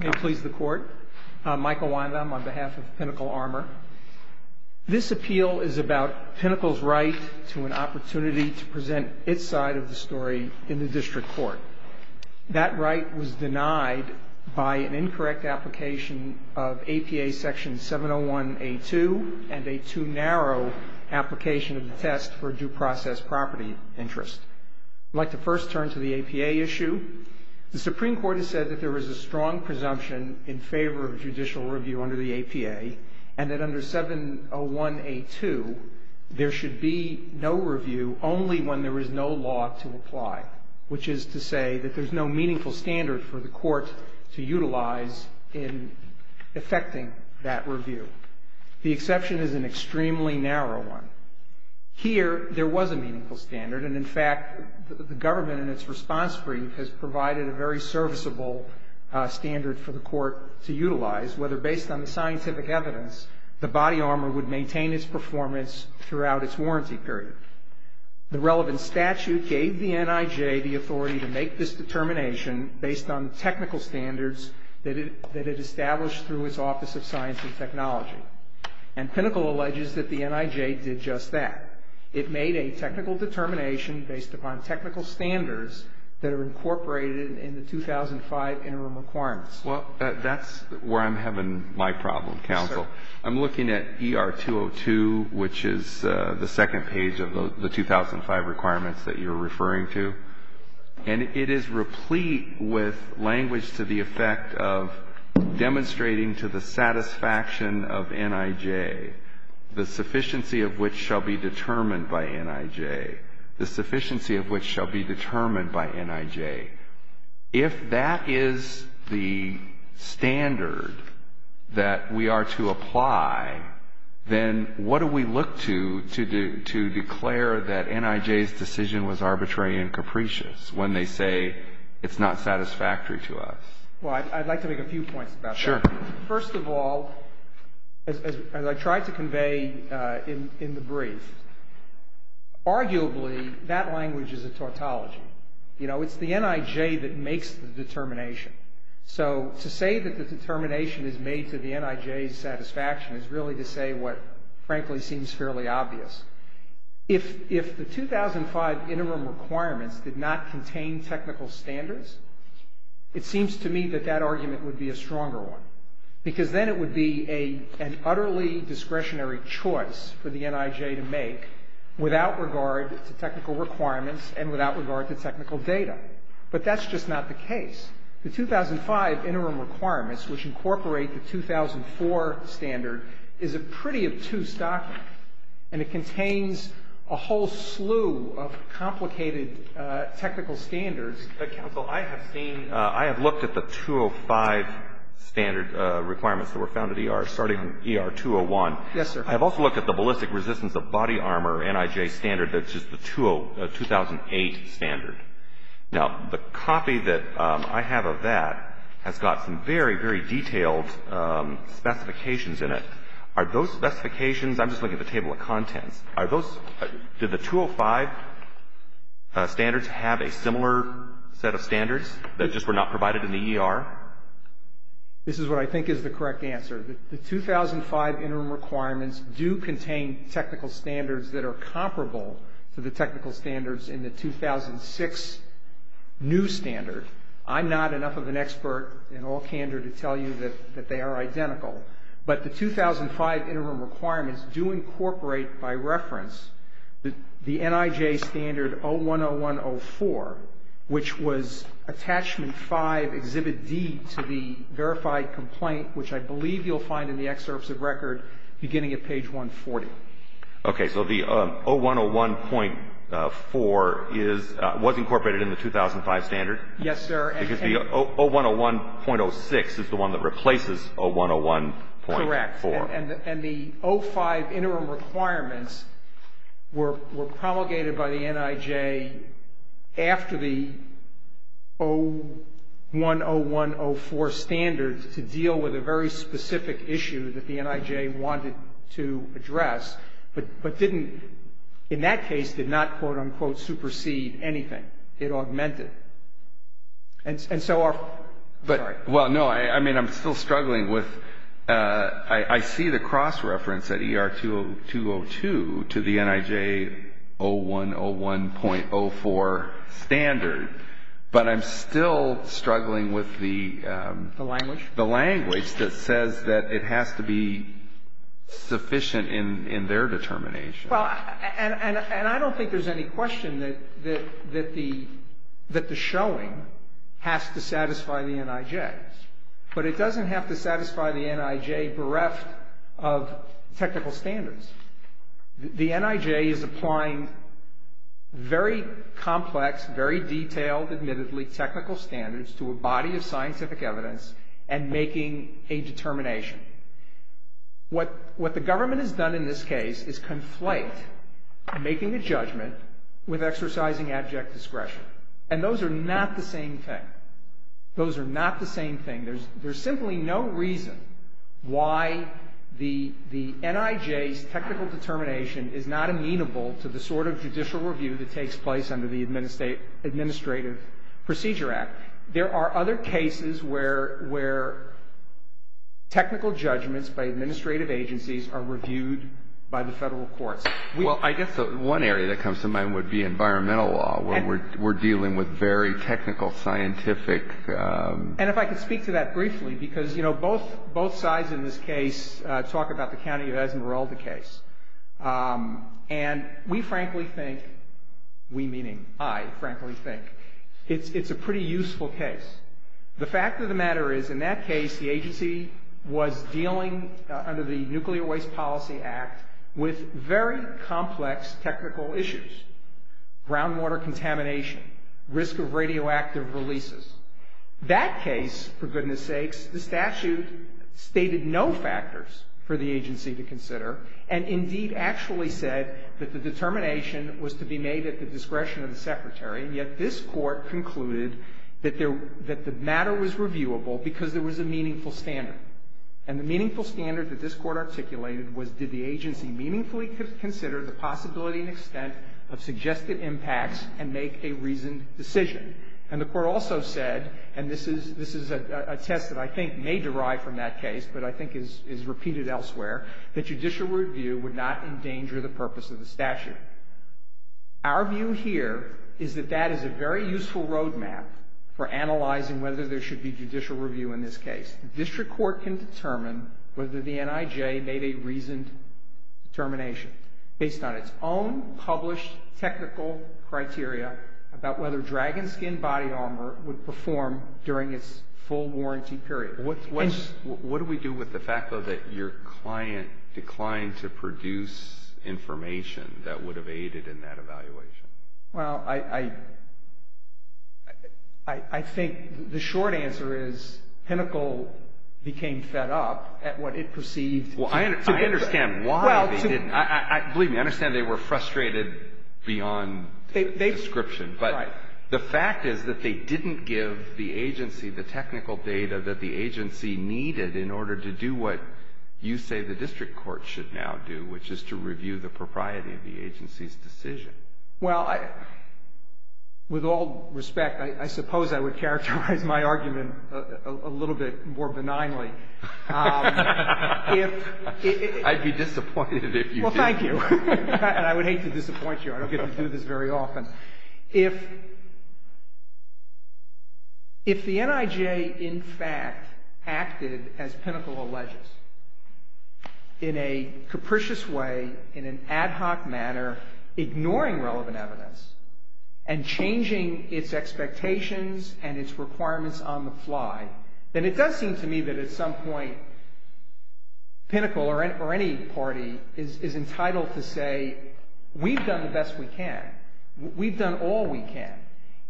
May it please the Court, I'm Michael Wyndham on behalf of Pinnacle Armor. This appeal is about Pinnacle's right to an opportunity to present its side of the story in the District Court. That right was denied by an incorrect application of APA Section 701A2 and a too narrow application of the test for due process property interest. I'd like to first turn to the APA issue. The Supreme Court has said that there is a strong presumption in favor of judicial review under the APA and that under 701A2 there should be no review only when there is no law to apply, which is to say that there's no meaningful standard for the Court to utilize in effecting that review. The exception is an extremely narrow one. Here there was a meaningful standard and, in fact, the government in its response brief has provided a very serviceable standard for the Court to utilize, whether based on the scientific evidence the body armor would maintain its performance throughout its warranty period. The relevant statute gave the NIJ the authority to make this determination based on technical standards that it established through its Office of Science and Technology. And Pinnacle alleges that the NIJ did just that. It made a technical determination based upon technical standards that are incorporated in the 2005 interim requirements. Well, that's where I'm having my problem, Counsel. I'm looking at ER202, which is the second page of the 2005 requirements that you're referring to. And it is replete with the sufficiency of which shall be determined by NIJ, the sufficiency of which shall be determined by NIJ. If that is the standard that we are to apply, then what do we look to to declare that NIJ's decision was arbitrary and capricious when they say it's not satisfactory to us? Well, I'd like to make a few points about that. Sure. First of all, as I tried to convey in the brief, arguably that language is a tautology. You know, it's the NIJ that makes the determination. So to say that the determination is made to the NIJ's satisfaction is really to say what frankly seems fairly obvious. If the 2005 interim requirements did not contain technical standards, it seems to me that that argument would be a stronger one. Because then it would be an utterly discretionary choice for the NIJ to make without regard to technical requirements and without regard to technical data. But that's just not the case. The 2005 interim requirements, which incorporate the 2004 standard, is a pretty obtuse document. And it contains a whole slew of complicated technical standards. Counsel, I have seen, I have looked at the 2005 standard requirements that were found at ER, starting on ER 201. Yes, sir. I've also looked at the ballistic resistance of body armor, NIJ standard, that's just the 2008 standard. Now, the copy that I have of that has got some very, very detailed specifications in it. Are those specifications, I'm just looking at the table of contents, are those, did the 2005 standards have a similar set of standards that just were not provided in the ER? This is what I think is the correct answer. The 2005 interim requirements do contain technical standards that are comparable to the technical standards in the 2006 new standard. I'm not enough of an expert in all candor to tell you that they are identical. But the 2005 interim requirements do incorporate, by reference, the NIJ standard 0101.04, which was attachment 5, exhibit D, to the verified complaint, which I believe you'll find in the excerpts of record beginning at page 140. Okay. So the 0101.4 is, was incorporated in the 2005 standard? Yes, sir. Because the 0101.06 is the one that replaces 0101.4. And the 05 interim requirements were promulgated by the NIJ after the 0101.04 standard to deal with a very specific issue that the NIJ wanted to address, but didn't, in that case, did not, quote, unquote, supersede anything. It augmented. And so our, sorry. Well, no, I mean, I'm still struggling with, I see the cross-reference at ER 202 to the NIJ 0101.04 standard, but I'm still struggling with the, The language? The language that says that it has to be sufficient in their determination. Well, and I don't think there's any question that the showing has to satisfy the NIJ. But it doesn't have to satisfy the NIJ bereft of technical standards. The NIJ is applying very complex, very detailed, admittedly, technical standards to a body of scientific evidence and making a determination. What the government has done in this case is conflate making a judgment with exercising abject discretion. And those are not the same thing. Those are not the same thing. There's simply no reason why the NIJ's technical determination is not amenable to the sort of judicial review that takes place under the Administrative Procedure Act. There are other cases where technical judgments by administrative agencies are reviewed by the federal courts. Well, I guess one area that comes to mind would be environmental law, where we're dealing with very technical, scientific. And if I could speak to that briefly, because, you know, both sides in this case talk about the County of Esmeralda case. And we frankly think, we meaning I frankly think, it's a pretty useful case. The fact of the matter is, in that case, the agency was dealing under the Nuclear Waste Policy Act with very complex technical issues. Groundwater contamination, risk of radioactive releases. That case, for goodness sakes, the statute stated no factors for the agency to consider, and indeed actually said that the determination was to be made at the discretion of the Secretary, and yet this Court concluded that the matter was reviewable because there was a meaningful standard. And the meaningful standard that this Court articulated was, did the agency meaningfully consider the possibility and extent of suggested impacts and make a reasoned decision? And the Court also said, and this is a test that I think may derive from that case, but I think is repeated elsewhere, that judicial review would not endanger the purpose of the statute. Our view here is that that is a very useful roadmap for analyzing whether there should be judicial review in this case. The District Court can determine whether the NIJ made a reasoned determination based on its own published technical criteria about whether dragon skin body armor would perform during its full warranty period. What's, what's, what do we do with the fact, though, that your client declined to produce information that would have aided in that evaluation? Well, I, I, I think the short answer is Pinnacle became fed up at what it perceived to be. Well, I understand why they didn't. I, I, believe me, I understand they were frustrated beyond description, but the fact is that they didn't give the agency the technical data that the agency needed in order to do what you say the District Court should now do, which is to review the propriety of the agency's decision. Well, I, with all respect, I, I suppose I would characterize my argument a, a little bit more benignly. If, if, if... I'd be disappointed if you didn't. Well, thank you. And I would hate to disappoint you. I don't get to do this very often. If, if the NIJ in fact acted as Pinnacle alleges in a capricious way, in an ad hoc manner, ignoring relevant evidence and changing its expectations and its requirements on the fly, then it does seem to me that at some point Pinnacle or, or any party is, is entitled to say, we've done the best we can. We've done all we can.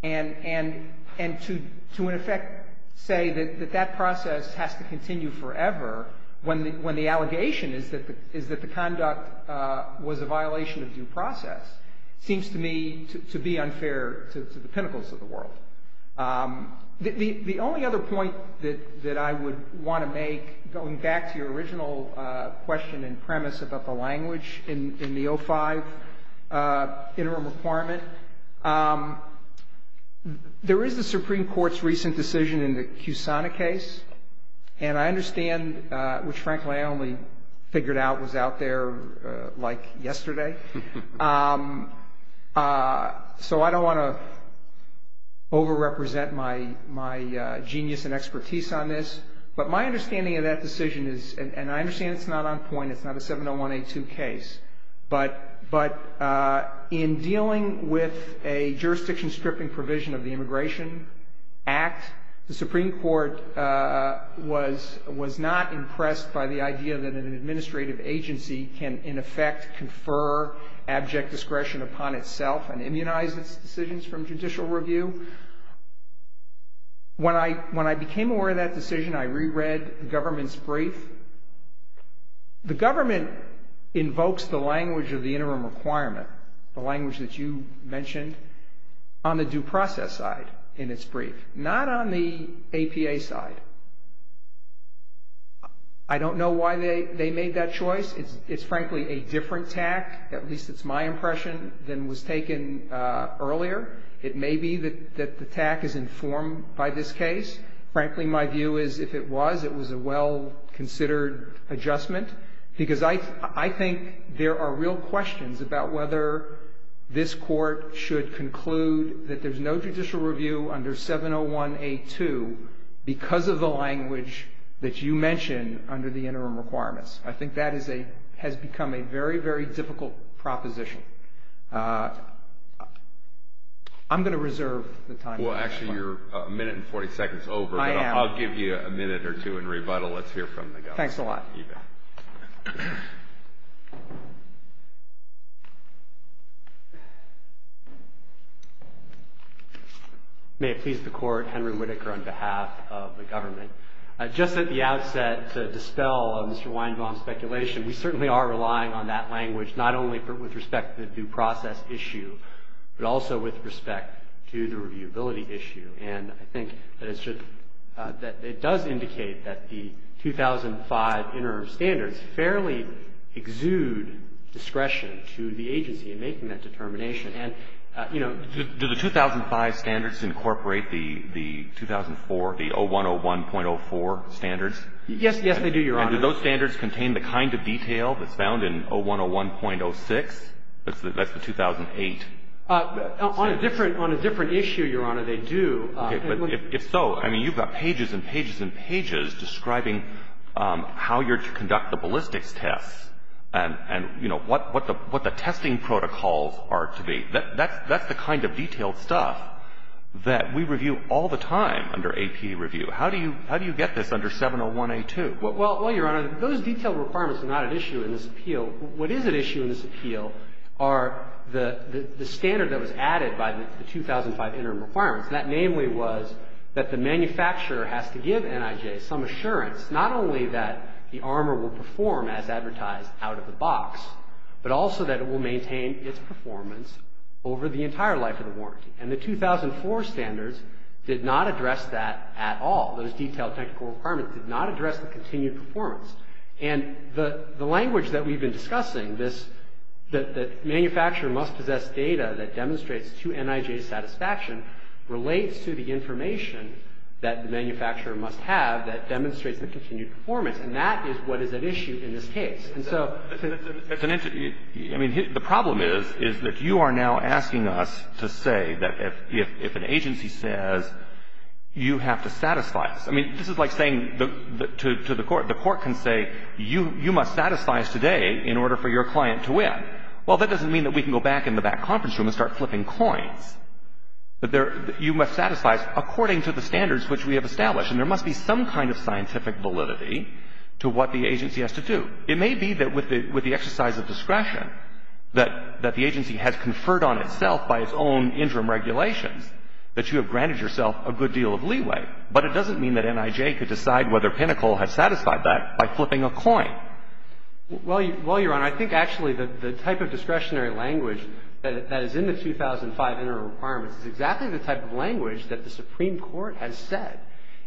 And, and, and to, to in effect say that, that that process has to continue forever when the, when the allegation is that the conduct was a violation of due process seems to me to, to be unfair to, to the Pinnacles of the world. The only other point that, that I would want to make, going back to your original question and premise about the language in, in the 05 Interim Requirement, there is the Supreme Court's recent decision in the Kusana case. And I understand, which frankly I only figured out was out there like yesterday. So I don't want to over-represent my, my genius and expertise on this. But my understanding of that decision is, and, and I understand it's not on point, it's not a 701A2 case. But, but in dealing with a jurisdiction stripping provision of the Immigration Act, the Supreme Court was, was not impressed by the idea that an administrative agency can in effect confer abject discretion upon itself and immunize its decisions from judicial review. When I, when I became aware of that decision, I re-read the government's brief. The government invokes the language of the Interim Requirement, the language that you mentioned, on the due process side in its brief, not on the APA side. I don't know why they, they made that choice. It's, it's frankly a different tack, at least it's my impression, than was taken earlier. It may be that, that the tack is informed by this case. Frankly, my view is if it was, it was a well-considered adjustment. Because I, I think there are real questions about whether this Court should conclude that there's no judicial review under 701A2 because of the language that you mentioned under the Interim Requirements. I think that is a, has become a very, very difficult proposition. I'm going to reserve the time. Well, actually you're a minute and 40 seconds over. I am. I'll give you a minute or two in rebuttal. Let's hear from the government. Thanks a lot. You bet. May it please the Court, Henry Whitaker on behalf of the government. Just at the outset to dispel Mr. Weinbaum's speculation, we certainly are relying on that language, not only with respect to the due process issue, but also with respect to the reviewability issue. And I think that it should, that it does indicate that the 2005 Interim Standards fairly exude discretion to the agency in making that determination. And, you know. Do the 2005 Standards incorporate the 2004, the 0101.04 Standards? Yes. Yes, they do, Your Honor. And do those standards contain the kind of detail that's found in 0101.06? That's the 2008. On a different, on a different issue, Your Honor, they do. Okay. But if so, I mean, you've got pages and pages and pages describing how you're to conduct the ballistics tests and, you know, what the, what the testing protocols are to be. That's, that's the kind of detailed stuff that we review all the time under AP review. How do you, how do you get this under 701A2? Well, Your Honor, those detailed requirements are not at issue in this appeal. What is at issue in this appeal are the, the standard that was added by the 2005 Interim Requirements. And that namely was that the manufacturer has to give NIJ some assurance, not only that the armor will perform as advertised out of the box, but also that it will maintain its performance over the entire life of the warranty. And the 2004 Standards did not address that at all. Those detailed technical requirements did not address the continued performance. And the, the language that we've been discussing, this, that, that manufacturer must possess data that demonstrates to NIJ's satisfaction relates to the information that the manufacturer must have that demonstrates the continued performance. And that is what is at issue in this case. And so, it's, it's an, I mean, the problem is, is that you are now asking us to say that if, if, if an agency says you have to satisfy us. I mean, this is like saying the, the, to, to the court. The court can say you, you must satisfy us today in order for your client to win. Well, that doesn't mean that we can go back in the back conference room and start flipping coins. But there, you must satisfy us according to the standards which we have established. And there must be some kind of scientific validity to what the agency has to do. It may be that with the, with the exercise of discretion, that, that the agency has conferred on itself by its own interim regulations, that you have granted yourself a good deal of leeway. But it doesn't mean that NIJ could decide whether Pinnacle has satisfied that by flipping a coin. Well, Your Honor, I think actually the, the type of discretionary language that, that is in the 2005 Interim Requirements is exactly the type of language that the Supreme Court has said.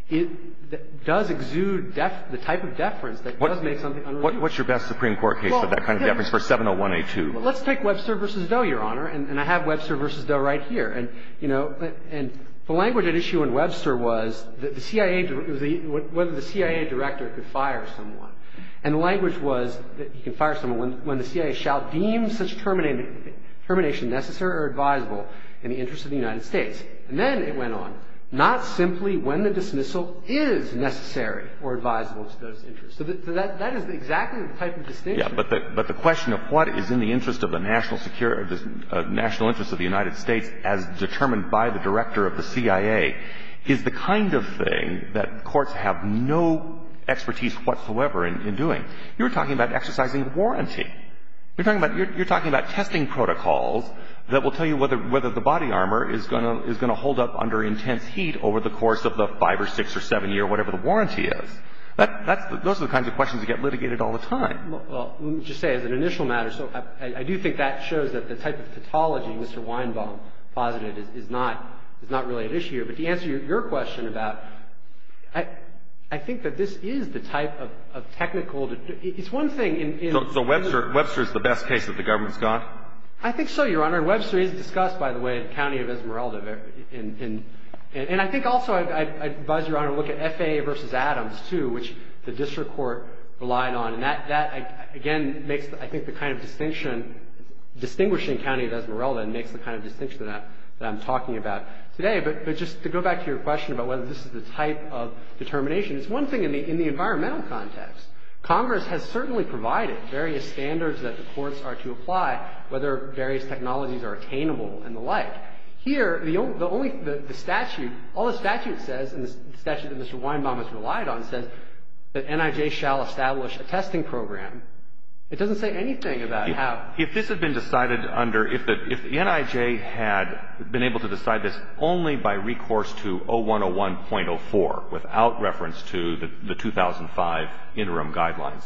It does exude def, the type of deference that does make something unreasonable. What, what's your best Supreme Court case of that kind of deference for 701A2? Well, let's take Webster v. Doe, Your Honor. And, and I have Webster v. Doe right here. And, you know, and the language at issue in Webster was that the CIA, the, the, whether the CIA director could fire someone. And the language was that you can fire someone when, when the CIA shall deem such termina, termination necessary or advisable in the interest of the United States. And then it went on. So, so the, so the, the, the question is not simply when the dismissal is necessary or advisable to those interested. So that, that is exactly the type of distinction. Yeah. But the, but the question of what is in the interest of the national secure, national interest of the United States as determined by the director of the CIA is the kind of thing that courts have no expertise whatsoever in, in doing. You're talking about exercising warranty. You're talking about, you're talking about testing protocols that will tell you whether, whether the body armor is going to, is going to hold up under intense heat over the course of the five or six or seven year, whatever the warranty is. That, that's, those are the kinds of questions that get litigated all the time. Well, let me just say, as an initial matter, so I, I do think that shows that the type of pathology Mr. Weinbaum posited is, is not, is not really an issue. But to answer your, your question about, I, I think that this is the type of, of technical to, it's one thing in, in. So, so Webster, Webster is the best case that the government's got? I think so, Your Honor. Webster is discussed, by the way, at County of Esmeralda in, in, and I think also I, I'd advise Your Honor to look at FAA v. Adams too, which the district court relied on. And that, that, again, makes, I think, the kind of distinction, distinguishing County of Esmeralda makes the kind of distinction that, that I'm talking about today. But, but just to go back to your question about whether this is the type of determination, it's one thing in the, in the environmental context. Congress has certainly provided various standards that the courts are to apply, whether various technologies are attainable and the like. Here, the only, the only, the statute, all the statute says, and the statute that Mr. Weinbaum has relied on says that NIJ shall establish a testing program. It doesn't say anything about how. If this had been decided under, if the, if the NIJ had been able to decide this only by recourse to 0101.04, without reference to the, the 2005 interim guidelines,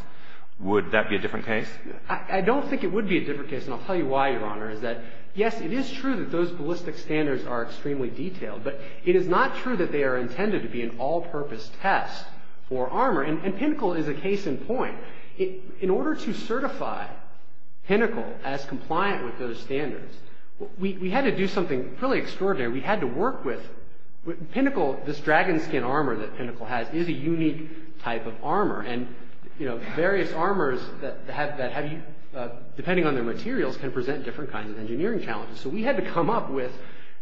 would that be a different case? I don't think it would be a different case. And I'll tell you why, Your Honor, is that, yes, it is true that those ballistic standards are extremely detailed. But it is not true that they are intended to be an all-purpose test for armor. And, and Pinnacle is a case in point. It, in order to certify Pinnacle as compliant with those standards, we, we had to do something really extraordinary. We had to work with, with Pinnacle, this dragon skin armor that Pinnacle has is a unique type of armor. And, you know, various armors that have, that have, depending on their materials, can present different kinds of engineering challenges. So we had to come up with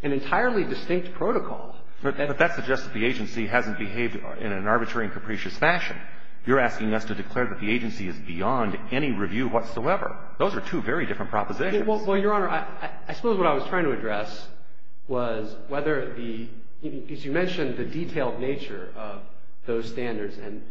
an entirely distinct protocol. But, but that suggests that the agency hasn't behaved in an arbitrary and capricious fashion. You're asking us to declare that the agency is beyond any review whatsoever. Those are two very different propositions. Well, Your Honor, I, I suppose what I was trying to address was whether the, as you mentioned, the detailed nature of those standards and,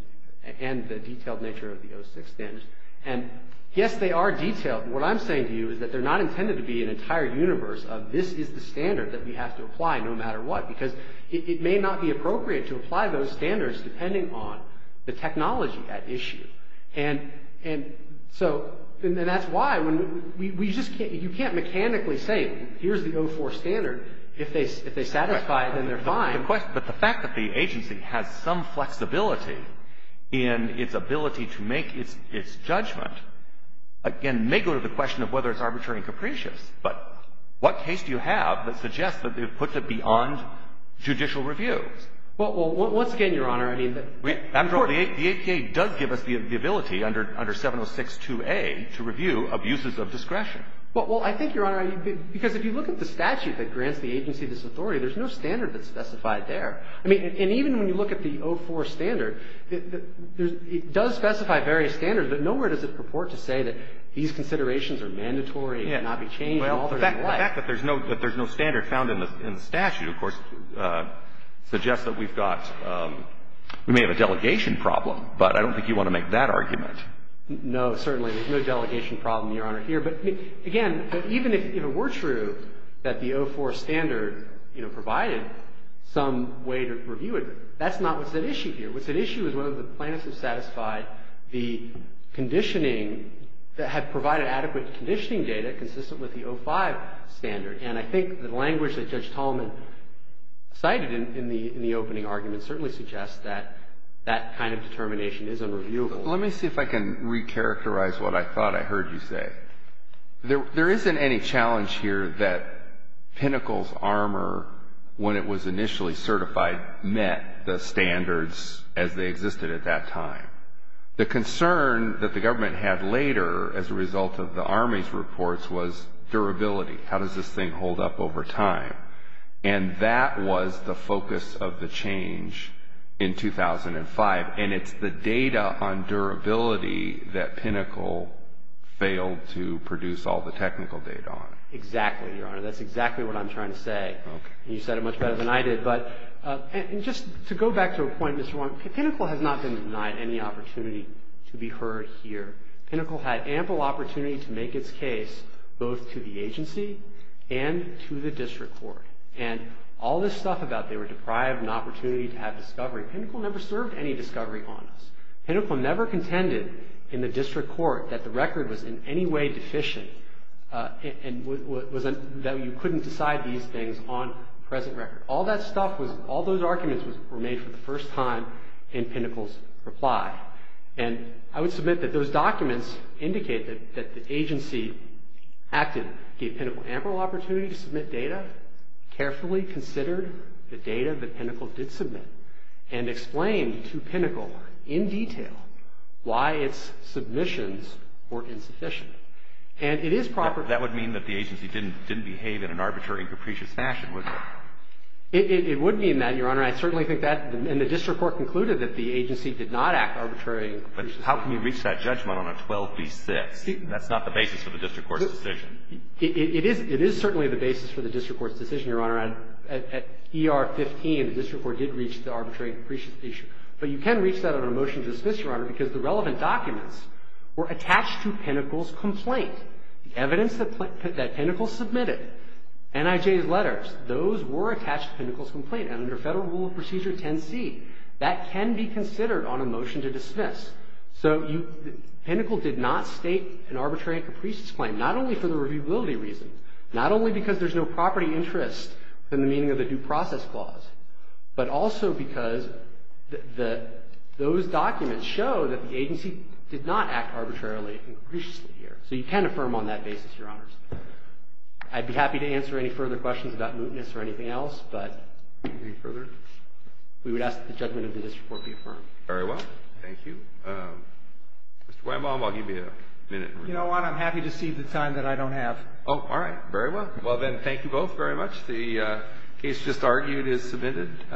and the detailed nature of the O6 standards. And yes, they are detailed. What I'm saying to you is that they're not intended to be an entire universe of this is the standard that we have to apply no matter what. Because it, it may not be appropriate to apply those standards depending on the technology at issue. And, and so, and that's why when we, we just can't, you can't mechanically say, here's the O4 standard. If they, if they satisfy it, then they're fine. But the fact that the agency has some flexibility in its ability to make its, its judgment again may go to the question of whether it's arbitrary and capricious. But what case do you have that suggests that they've put it beyond judicial review? Well, well, once again, Your Honor, I mean, we, of course, the APA does give us the, the ability under, under 706-2A to review abuses of discretion. Well, well, I think, Your Honor, because if you look at the statute that grants the statute, it does specify there, I mean, and even when you look at the O4 standard, there's, it does specify various standards, but nowhere does it purport to say that these considerations are mandatory and cannot be changed in altering the life. Well, the fact that there's no, that there's no standard found in the, in the statute, of course, suggests that we've got, we may have a delegation problem, but I don't think you want to make that argument. No, certainly. There's no delegation problem, Your Honor, here. But, I mean, again, even if, if it were true that the O4 standard, you know, provided some way to review it, that's not what's at issue here. What's at issue is whether the plaintiffs have satisfied the conditioning that had provided adequate conditioning data consistent with the O5 standard. And I think the language that Judge Tallman cited in, in the, in the opening argument certainly suggests that that kind of determination is unreviewable. Let me see if I can recharacterize what I thought I heard you say. There, there isn't any challenge here that Pinnacle's armor, when it was initially certified, met the standards as they existed at that time. The concern that the government had later, as a result of the Army's reports, was durability. How does this thing hold up over time? And that was the focus of the change in 2005. And it's the data on durability that Pinnacle failed to produce all the technical data on. Exactly, Your Honor. That's exactly what I'm trying to say. Okay. You said it much better than I did. But, and, and just to go back to a point, Mr. Warren, Pinnacle has not been denied any opportunity to be heard here. Pinnacle had ample opportunity to make its case both to the agency and to the district court. And all this stuff about they were deprived an opportunity to have discovery. Pinnacle never served any discovery on us. Pinnacle never contended in the district court that the record was in any way deficient. And, and was, was, that you couldn't decide these things on present record. All that stuff was, all those arguments were made for the first time in Pinnacle's reply. And I would submit that those documents indicate that, that the agency acted, gave Pinnacle ample opportunity to submit data, carefully considered the data that Pinnacle did submit. And explained to Pinnacle, in detail, why its submissions were insufficient. And it is proper. That would mean that the agency didn't, didn't behave in an arbitrary and capricious fashion, would it? It, it, it would mean that, Your Honor. I certainly think that, and the district court concluded that the agency did not act arbitrary and capricious. But how can you reach that judgment on a 12 v 6? That's not the basis for the district court's decision. It, it, it is, it is certainly the basis for the district court's decision, Your Honor, to reach the arbitrary and capricious issue. But you can reach that on a motion to dismiss, Your Honor, because the relevant documents were attached to Pinnacle's complaint. Evidence that, that Pinnacle submitted, NIJ's letters, those were attached to Pinnacle's complaint. And under Federal Rule of Procedure 10C, that can be considered on a motion to dismiss. So, you, Pinnacle did not state an arbitrary and capricious claim, not only for the reviewability reason, not only because there's no property interest in the beginning of the due process clause, but also because the, the, those documents show that the agency did not act arbitrarily and capriciously here. So, you can affirm on that basis, Your Honors. I'd be happy to answer any further questions about mootness or anything else, but. Any further? We would ask that the judgment of the district court be affirmed. Very well. Thank you. Mr. Weinbaum, I'll give you a minute. You know what? I'm happy to see the time that I don't have. Oh, all right. Very well. Well, then, thank you both very much. The case just argued is submitted.